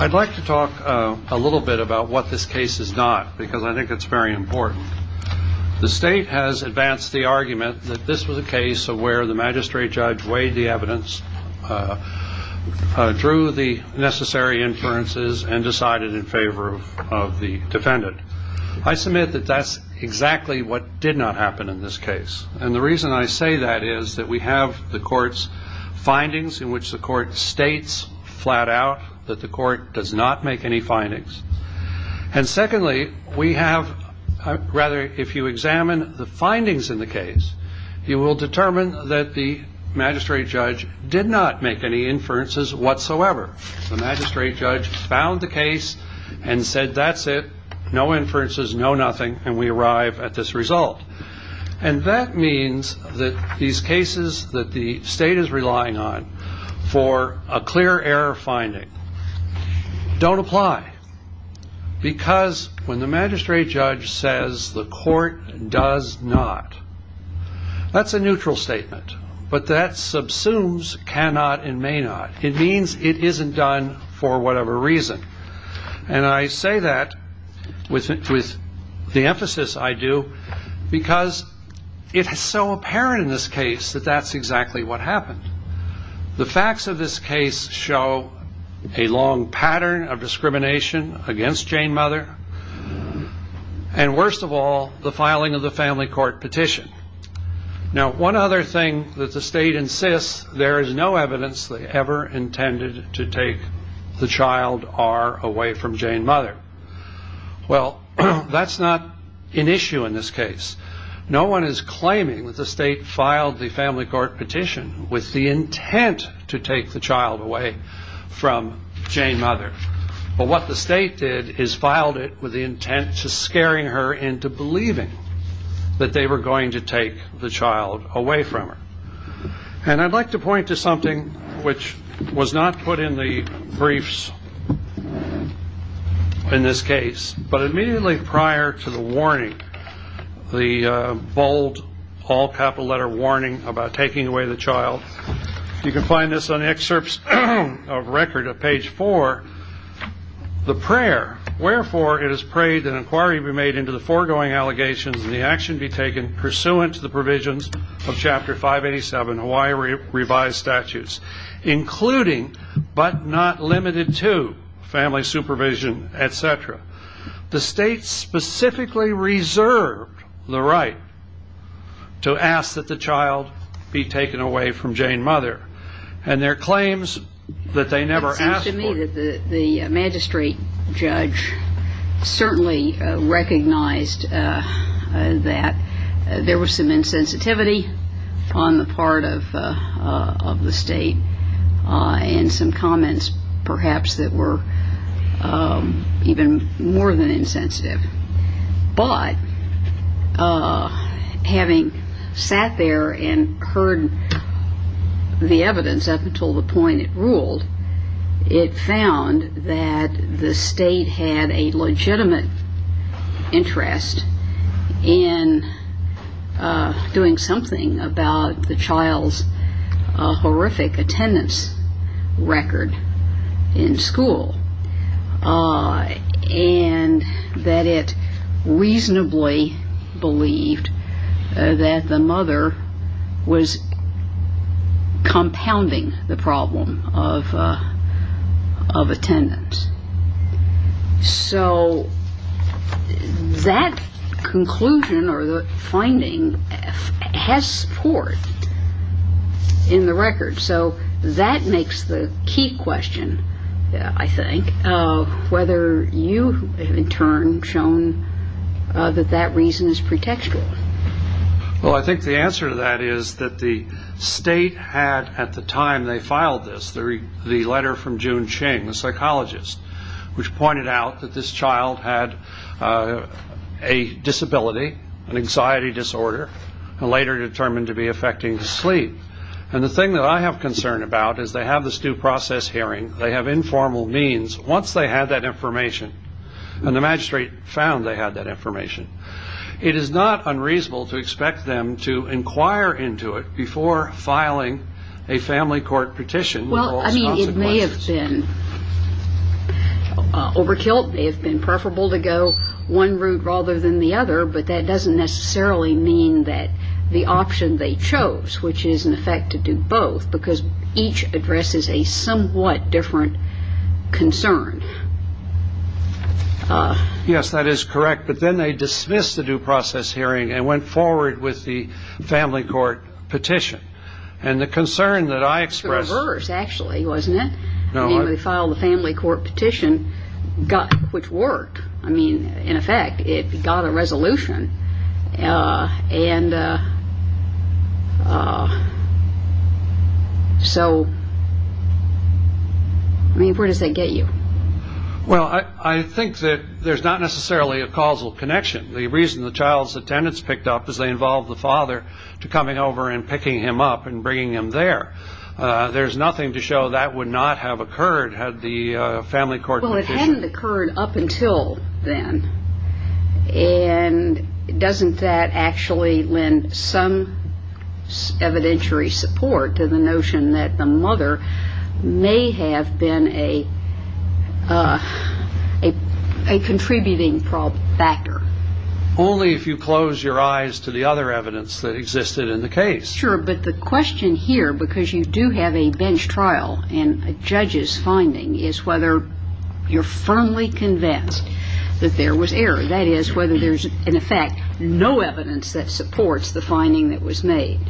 I'd like to talk a little bit about what this case is not, because I think it's very important. The state has advanced the argument that this was a case of where the magistrate judge weighed the evidence, drew the necessary inferences, and decided in favor of the defendant. I submit that that's exactly what did not happen in this case. And the reason I say that is that we have the court's findings in which the court states flat out that the court does not make any findings. And secondly, we have, rather, if you examine the findings in the case, you will determine that the magistrate judge did not make any inferences whatsoever. The magistrate judge found the case and said, that's it, no inferences, no nothing, and we arrive at this result. And that means that these cases that the state is relying on for a clear error finding don't apply, because when the magistrate judge says the court does not, that's a neutral statement. But that subsumes cannot and may not. It means it isn't done for whatever reason. And I say that with the emphasis I do, because it is so apparent in this case that that's exactly what happened. The facts of this case show a long pattern of discrimination against Jane Mother, and worst of all, the filing of the family court petition. Now, one other thing that the state insists there is no evidence ever intended to take the child, R, away from Jane Mother. Well, that's not an issue in this case. No one is claiming that the state filed the family court petition with the intent to take the child away from Jane Mother. But what the state did is filed it with the intent to scaring her into believing that they were going to take the child away from her. And I'd like to point to something which was not put in the briefs in this case, but immediately prior to the warning, the bold, all-capital-letter warning about taking away the child, you can find this on excerpts of record of page 4, the prayer, wherefore it is prayed that inquiry be made into the foregoing allegations and the action be taken pursuant to the provisions of Chapter 587, Hawaii Revised Statutes, including, but not limited to, family supervision, etc. The state specifically reserved the right to ask that the child be taken away from Jane Mother, and there are claims that they never asked for. It seems to me that the magistrate judge certainly recognized that there was some insensitivity on the part of the state, and some comments, perhaps, that were even more than insensitive. But, having sat there and heard the evidence up until the point it ruled, it found that the state had a legitimate interest in doing something with the child, and that was to do something about the child's horrific attendance record in school, and that it reasonably believed that the mother was compounding the problem of attendance. So, that conclusion, or the finding, has support in the record, so that makes the key question, I think, of whether you, in turn, have shown that that reason is pretextual. Well, I think the answer to that is that the state had, at the time they filed this, the family psychologist, which pointed out that this child had a disability, an anxiety disorder, and later determined to be affecting sleep, and the thing that I have concern about is they have this due process hearing, they have informal means, once they had that information, and the magistrate found they had that information, it is not unreasonable to expect them to inquire into it before filing a family court petition. Well, I mean, it may have been overkill, it may have been preferable to go one route rather than the other, but that doesn't necessarily mean that the option they chose, which is in effect to do both, because each addresses a somewhat different concern. Yes, that is correct, but then they dismissed the due process hearing and went forward with the family court petition, and the concern that I expressed... It was the reverse, actually, wasn't it? No. I mean, they filed a family court petition, which worked, I mean, in effect, it got a resolution, and so, I mean, where does that get you? Well, I think that there is not necessarily a causal connection. The reason the child's picked up is they involved the father to coming over and picking him up and bringing him there. There's nothing to show that would not have occurred had the family court petition... Well, it hadn't occurred up until then, and doesn't that actually lend some evidentiary support to the notion that the mother may have been a contributing factor? Only if you close your eyes to the other evidence that existed in the case. Sure, but the question here, because you do have a bench trial and a judge's finding, is whether you're firmly convinced that there was error, that is, whether there's, in effect, no evidence that supports the finding that was made.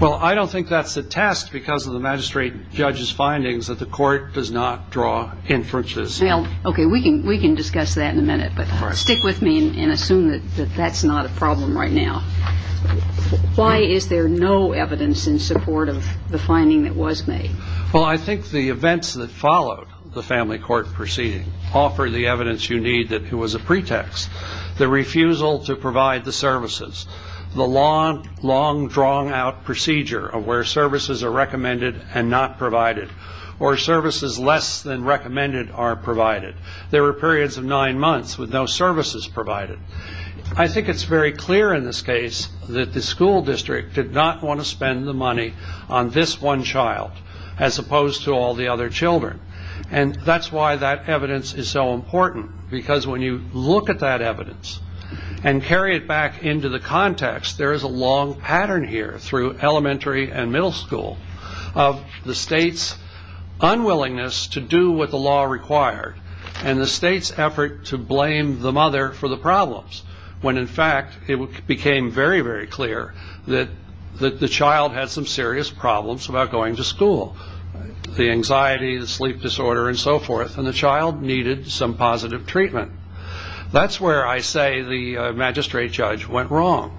Well, I don't think that's a test because of the magistrate judge's findings that the court does not draw inferences. Well, okay, we can discuss that in a minute, but stick with me and assume that that's not a problem right now. Why is there no evidence in support of the finding that was made? Well, I think the events that followed the family court proceeding offer the evidence you need that it was a pretext. The refusal to provide the services, the long, drawn-out procedure of where services are recommended and not provided, or services less than recommended are provided. There were periods of nine months with no services provided. I think it's very clear in this case that the school district did not want to spend the money on this one child, as opposed to all the other children. And that's why that evidence is so important, because when you look at that evidence and carry it back into the context, there is a long pattern here through elementary and middle school of the required, and the state's effort to blame the mother for the problems, when in fact it became very, very clear that the child had some serious problems about going to school, the anxiety, the sleep disorder, and so forth, and the child needed some positive treatment. That's where I say the magistrate judge went wrong.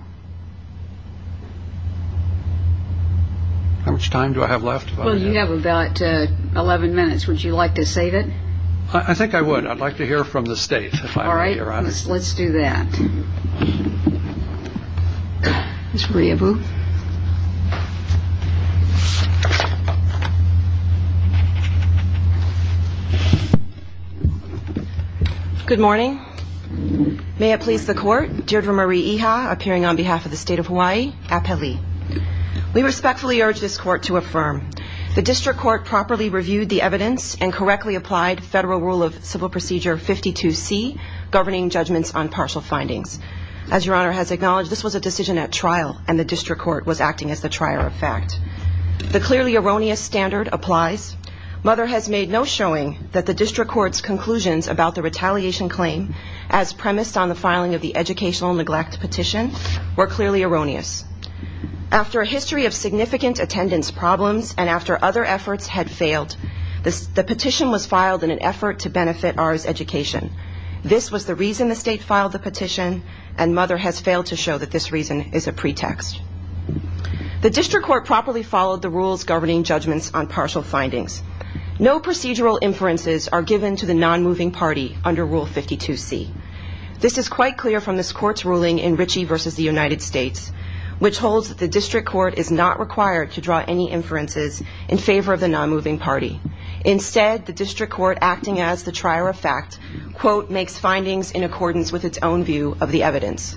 How much time do I have left? Well, you have about 11 minutes. Would you like to save it? I think I would. I'd like to hear from the state. All right. Let's do that. Ms. Rehobo. Good morning. May it please the Court, Deirdre Marie Iha, appearing on behalf of the State of Hawaii, Apeli. We respectfully urge this Court to affirm. The District Court properly reviewed the evidence and correctly applied Federal Rule of Civil Procedure 52C, governing judgments on partial findings. As Your Honor has acknowledged, this was a decision at trial, and the District Court was acting as the trier of fact. The clearly erroneous standard applies. Mother has made no showing that the District Court's conclusions about the retaliation claim, as premised on the filing of the educational neglect petition, were clearly erroneous. After a history of significant attendance problems, and after other efforts had failed, the petition was filed in an effort to benefit ours education. This was the reason the State filed the petition, and Mother has failed to show that this reason is a pretext. The District Court properly followed the rules governing judgments on partial findings. No This is quite clear from this Court's ruling in Ritchie v. The United States, which holds that the District Court is not required to draw any inferences in favor of the non-moving party. Instead, the District Court, acting as the trier of fact, quote, makes findings in accordance with its own view of the evidence.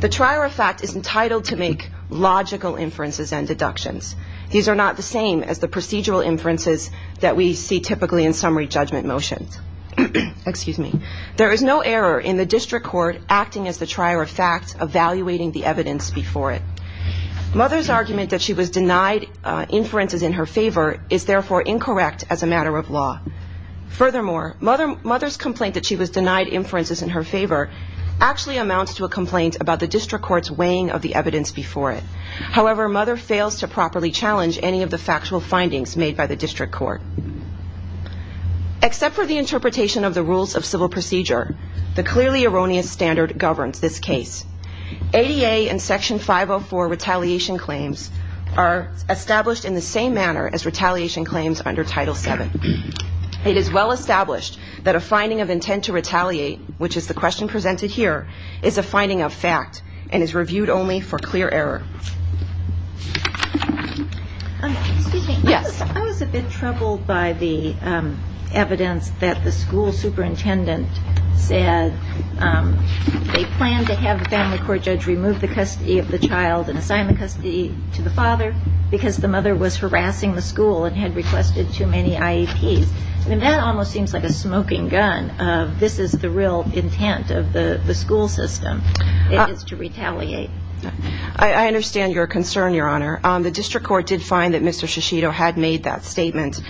The trier of fact is entitled to make logical inferences and deductions. These are not the same as the procedural inferences that we see typically in summary judgment motions. There is no error in the District Court acting as the trier of fact, evaluating the evidence before it. Mother's argument that she was denied inferences in her favor is therefore incorrect as a matter of law. Furthermore, Mother's complaint that she was denied inferences in her favor actually amounts to a complaint about the District Court's weighing of the evidence before it. However, Mother fails to properly challenge any of the factual findings made by the District Court. Except for the interpretation of the rules of civil procedure, the clearly erroneous standard governs this case. ADA and Section 504 retaliation claims are established in the same manner as retaliation claims under Title VII. It is well established that a finding of intent to retaliate, which is the question presented here, is a finding of fact and is I was a bit troubled by the evidence that the school superintendent said they planned to have the family court judge remove the custody of the child and assign the custody to the father because the mother was harassing the school and had requested too many IEPs. I mean, that almost seems like a smoking gun of this is the real intent of the school system. It is to retaliate. I understand your concern, Your Honor. The District Court did find that Mr. Shishido had made that statement.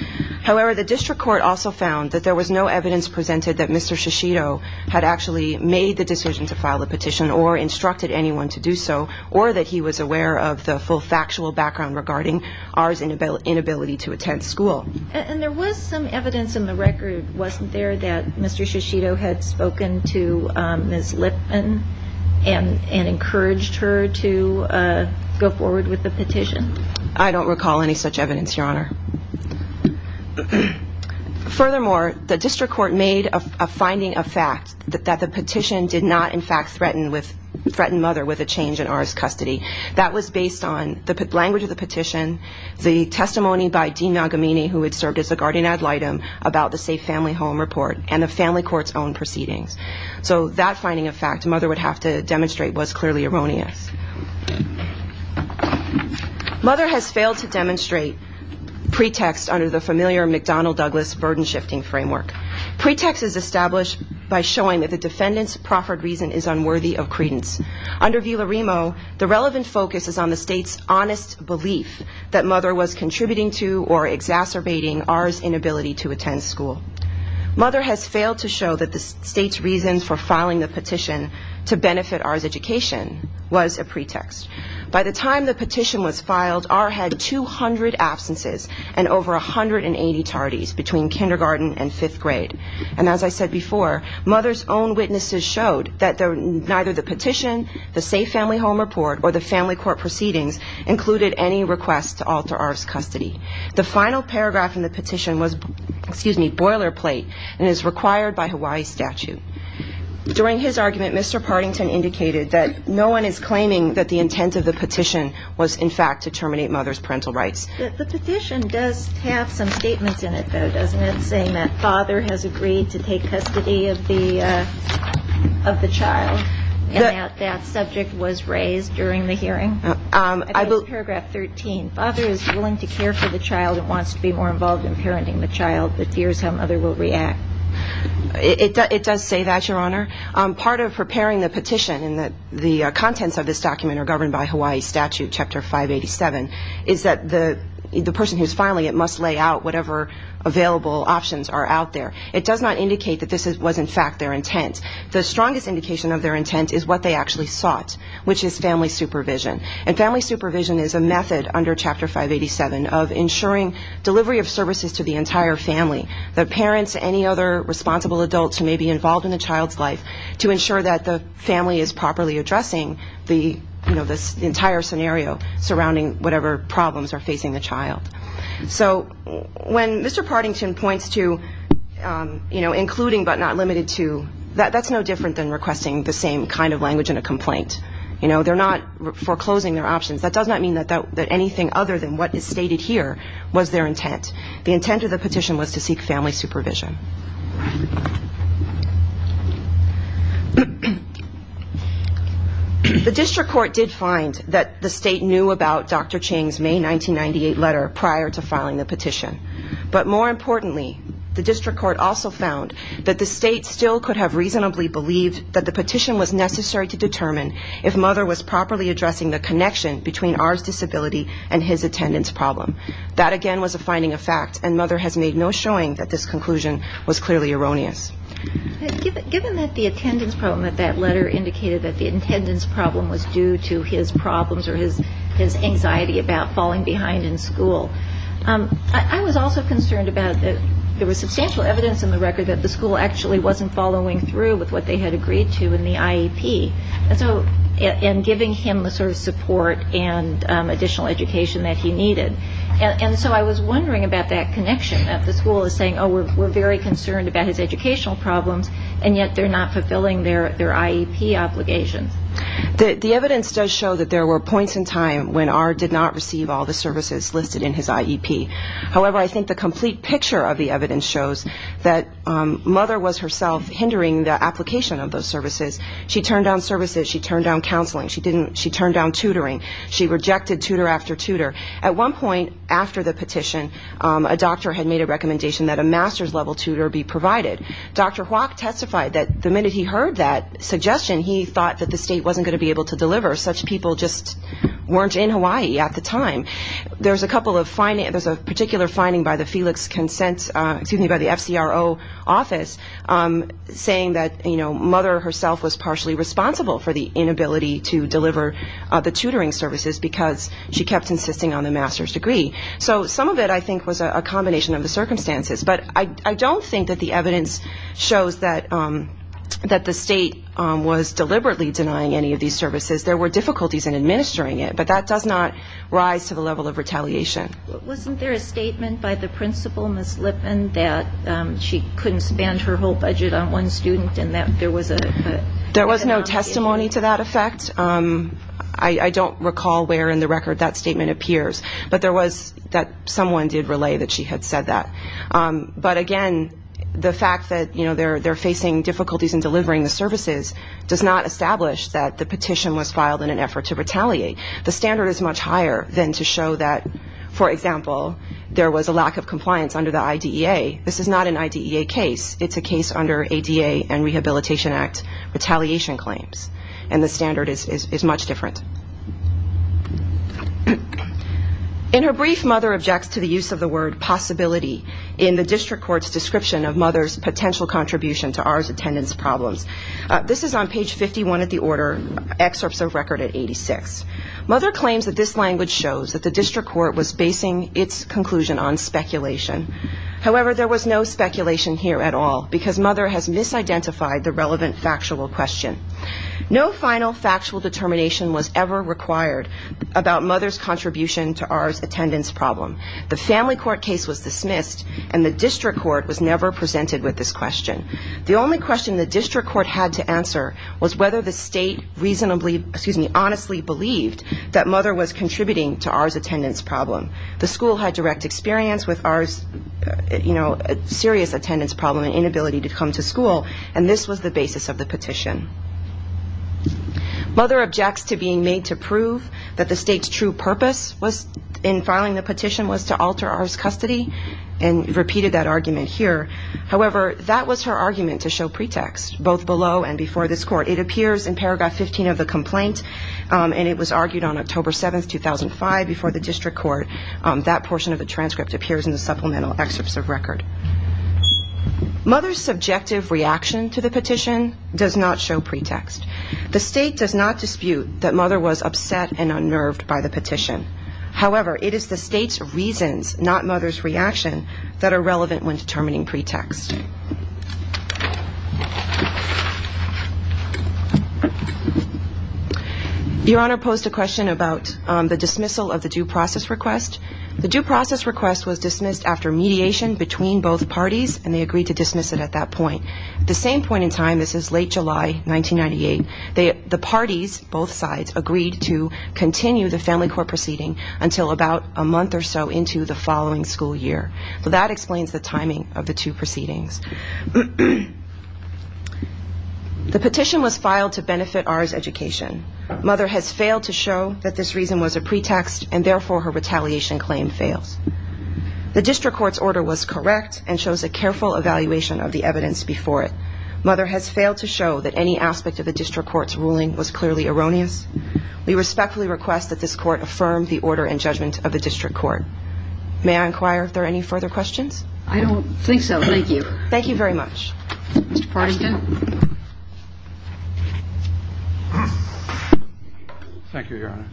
However, the District Court also found that there was no evidence presented that Mr. Shishido had actually made the decision to file the petition or instructed anyone to do so or that he was aware of the full factual background regarding ours inability to attend school. And there was some evidence in the record, wasn't there, that Mr. Shishido had spoken to Ms. Lipman and encouraged her to go forward with the petition? I don't recall any such evidence, Your Honor. Furthermore, the District Court made a finding of fact that the petition did not, in fact, threaten mother with a change in ours custody. That was based on the language of the petition, the testimony by Dean Nagamini, who had served as a guardian ad litem, about the Safe Family Home report and the family court's own proceedings. So that finding of fact mother would have to demonstrate was clearly erroneous. Mother has failed to demonstrate pretext under the familiar McDonnell-Douglas burden-shifting framework. Pretext is established by showing that the defendant's proffered reason is unworthy of credence. Under Villaremo, the relevant focus is on the state's honest belief that mother was contributing to or exacerbating ours inability to attend school. Mother has was a pretext. By the time the petition was filed, our had 200 absences and over 180 tardies between kindergarten and fifth grade. And as I said before, mother's own witnesses showed that neither the petition, the Safe Family Home report, or the family court proceedings included any request to alter ours custody. The final paragraph in the petition was, excuse me, boilerplate and is required by Hawaii statute. During his argument, Mr. Partington indicated that no one is claiming that the intent of the petition was in fact to terminate mother's parental rights. The petition does have some statements in it, though, doesn't it, saying that father has agreed to take custody of the child and that that subject was raised during the hearing? I believe paragraph 13, father is willing to care for the child and wants to be more involved in parenting the child but fears how mother will react. It does say that, your honor. Part of preparing the petition and the contents of this document are governed by Hawaii statute, chapter 587, is that the person who is filing it must lay out whatever available options are out there. It does not indicate that this was in fact their intent. The strongest indication of their intent is what they actually sought, which is family supervision. And family supervision is a method under chapter 587 of ensuring delivery of services to the entire family, the parents, any other responsible adults who may be involved in the child's life, to ensure that the family is properly addressing the entire scenario surrounding whatever problems are facing the child. So when Mr. Partington points to including but not limited to, that's no different than requesting the same kind of language in a complaint. They're not foreclosing their options. That does not mean that anything other than what is stated here was their intent. The intent of the petition was to seek family supervision. The district court did find that the state knew about Dr. Ching's May 1998 letter prior to filing the petition. But more importantly, the district court also found that the state still could have reasonably believed that the petition was necessary to determine if there was a link between our disability and his attendance problem. That again was a finding of fact and Mother has made no showing that this conclusion was clearly erroneous. Given that the attendance problem of that letter indicated that the attendance problem was due to his problems or his anxiety about falling behind in school, I was also concerned about that there was substantial evidence in the record that the school actually wasn't following through with what they had agreed to in the IEP. And so in giving him the sort and additional education that he needed. And so I was wondering about that connection that the school is saying, oh, we're very concerned about his educational problems and yet they're not fulfilling their IEP obligations. The evidence does show that there were points in time when R did not receive all the services listed in his IEP. However, I think the complete picture of the evidence shows that Mother was herself hindering the application of those services. She turned down services, she turned down tutoring, she rejected tutor after tutor. At one point after the petition, a doctor had made a recommendation that a master's level tutor be provided. Dr. Hoak testified that the minute he heard that suggestion, he thought that the state wasn't going to be able to deliver. Such people just weren't in Hawaii at the time. There's a couple of findings, there's a particular finding by the Felix Consent, excuse me, by the FCRO office saying that, you know, Mother herself was partially responsible for the tutoring services because she kept insisting on the master's degree. So some of it I think was a combination of the circumstances. But I don't think that the evidence shows that the state was deliberately denying any of these services. There were difficulties in administering it, but that does not rise to the level of retaliation. Wasn't there a statement by the principal, Ms. Lipman, that she couldn't spend her whole budget on one student and that there was a... There was no testimony to that effect. I don't recall where in the record that statement appears, but there was that someone did relay that she had said that. But again, the fact that, you know, they're facing difficulties in delivering the services does not establish that the petition was filed in an effort to retaliate. The standard is much higher than to show that, for example, there was a lack of compliance under the IDEA. This is not an IDEA case. It's a case under ADA and Rehabilitation Act retaliation claims. And the standard is much different. In her brief, Mother objects to the use of the word possibility in the district court's description of Mother's potential contribution to ours attendance problems. This is on page 51 of the order, excerpts of record at 86. Mother claims that this language shows that the district court was basing its conclusion on speculation. However, there was no speculation here at all because Mother has misidentified the relevant factual question. No final factual determination was ever required about Mother's contribution to ours attendance problem. The family court case was dismissed and the district court was never presented with this question. The only question the district court had to answer was whether the state reasonably, excuse me, that Mother was contributing to ours attendance problem. The school had direct experience with ours, you know, serious attendance problem and inability to come to school and this was the basis of the petition. Mother objects to being made to prove that the state's true purpose was in filing the petition was to alter ours custody and repeated that argument here. However, that was her argument to show pretext, both below and before this court. It appears in paragraph 15 of the complaint and it was argued on October 7, 2005 before the district court. That portion of the transcript appears in the supplemental excerpts of record. Mother's subjective reaction to the petition does not show pretext. The state does not dispute that Mother was upset and unnerved by the petition. However, it is the state's reasons, not Mother's reaction, that are relevant when determining pretext. Your Honor posed a question about the dismissal of the due process request. The due process request was dismissed after mediation between both parties and they agreed to dismiss it at that point. The same point in time, this is late July 1998, the parties, both sides, agreed to continue the family court proceeding until about a month or so into the following school year. So that explains the timing of the two proceedings. The petition was filed to benefit ours education. Mother has failed to show that this reason was a pretext and therefore her retaliation claim fails. The district court's order was correct and shows a careful evaluation of the evidence before it. Mother has failed to show that any aspect of the district court's ruling was clearly erroneous. We respectfully request that this court affirm the order and judgment of the district court. May I inquire if there are any further questions? I don't think so. Thank you. Thank you very much. Mr. Partington. Thank you, Your Honor.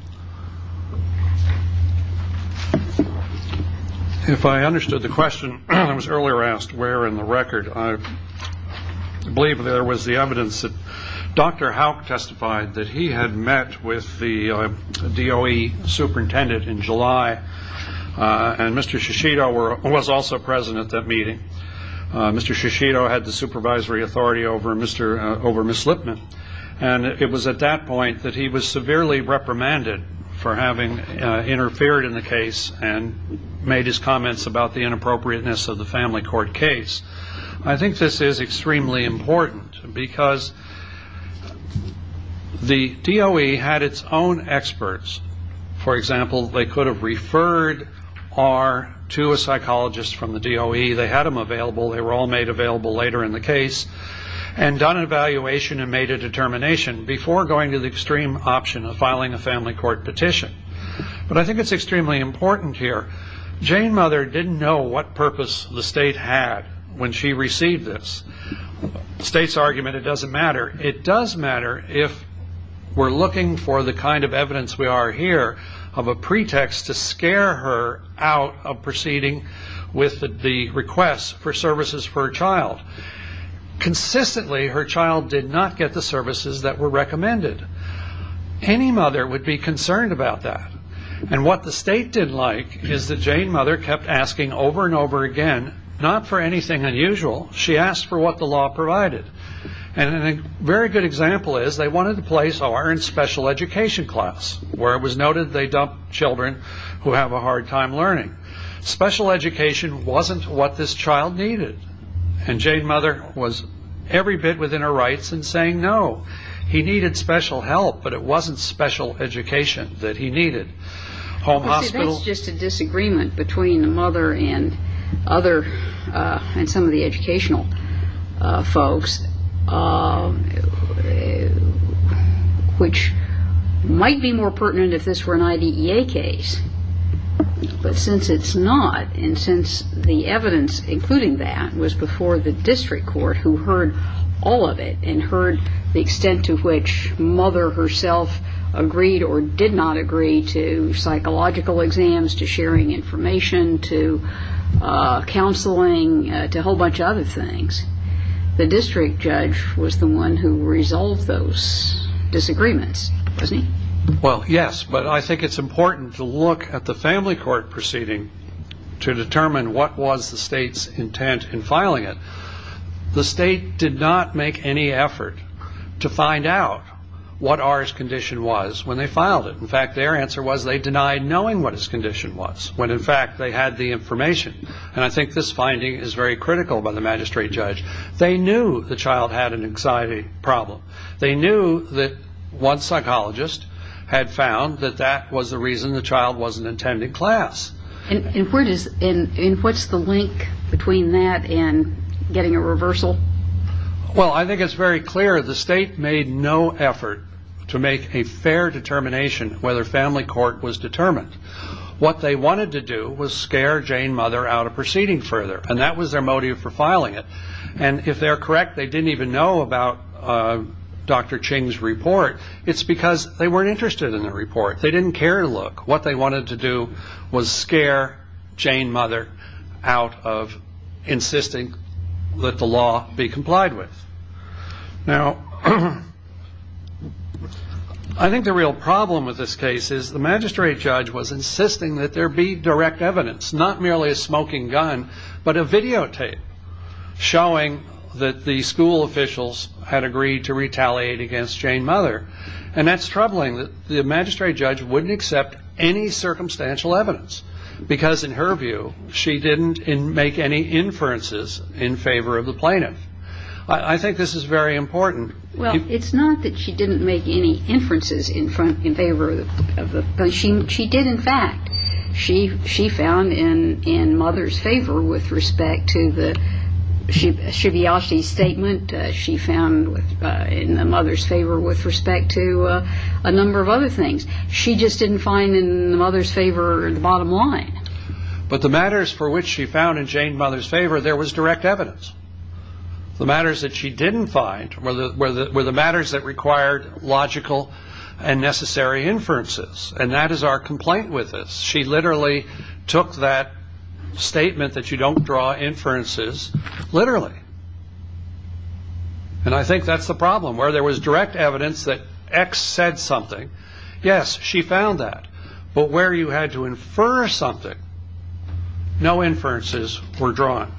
If I understood the question that was earlier asked, where in the record, I believe there was the evidence that Dr. Hauk testified that he had met with the DOE superintendent in July and Mr. Shishido was also present at that meeting. Mr. Shishido had the supervisory authority over Ms. Slipman and it was at that point that he was severely reprimanded for having interfered in the case and made his comments about the inappropriateness of the family court case. I think this is extremely important because the DOE had its own experts. For example, they could have referred R to a psychologist from the DOE. They had them available. They were all made available later in the case and done an evaluation and made a determination before going to the extreme option of filing a family court petition. I think it's extremely important here. Jane Mother didn't know what purpose the state had when she received this. The state's argument, it doesn't matter. It does matter if we're looking for the kind of evidence we are here of a pretext to scare her out of proceeding with the request for services for her child. Consistently, her child did not get the services that were recommended. Any mother would be concerned about that. What the state didn't like is that Jane Mother kept asking over and over again, not for anything unusual. She asked for what the law provided. A very good example is they wanted to place her in special education class where it was noted they dump children who have a hard time learning. Special education wasn't what this child needed. Jane Mother was every bit within her rights in saying no. He needed special help, but it wasn't special education that he needed. That's just a disagreement between the mother and some of the educational folks, which might be more pertinent if this were an IDEA case. But since it's not, and since the evidence including that was before the district court who heard all of it and heard the extent to which Mother herself agreed or did not agree to psychological exams, to sharing information, to counseling, to a whole bunch of other things, the district judge was the one who resolved those disagreements, wasn't he? Well, yes, but I think it's important to look at the family court proceeding to determine what was the state's intent in filing it. The state did not make any effort to find out what R's condition was when they filed it. In fact, their answer was they denied knowing what his condition was, when in fact they had the information. And I think this finding is very critical by the magistrate judge. They knew the child had an anxiety problem. They knew that one psychologist had found that that was the reason the child wasn't attending class. And what's the link between that and getting a reversal? Well, I think it's very clear the state made no effort to make a fair determination whether family court was determined. What they wanted to do was scare Jane Mother out of proceeding further, and that was their motive for filing it. And if they're correct, they didn't even know about Dr. Ching's report. It's because they weren't interested in the report. They wanted to scare Jane Mother out of insisting that the law be complied with. Now, I think the real problem with this case is the magistrate judge was insisting that there be direct evidence, not merely a smoking gun, but a videotape showing that the school officials had agreed to retaliate against Jane Mother. And that's troubling. The magistrate judge wouldn't accept any circumstantial evidence, because in her view, she didn't make any inferences in favor of the plaintiff. I think this is very important. Well, it's not that she didn't make any inferences in favor of the plaintiff. She did, in fact. She found in Mother's favor with respect to the Shibayashi statement. She found in Mother's favor with respect to a number of other things. She just didn't find in Mother's favor the bottom line. But the matters for which she found in Jane Mother's favor, there was direct evidence. The matters that she didn't find were the matters that required logical and necessary inferences. And that is our complaint with this. She literally took that statement that you don't draw inferences literally. And I think that's the problem. Where there was direct evidence that X said something, yes, she found that. But where you had to infer something, no inferences were drawn.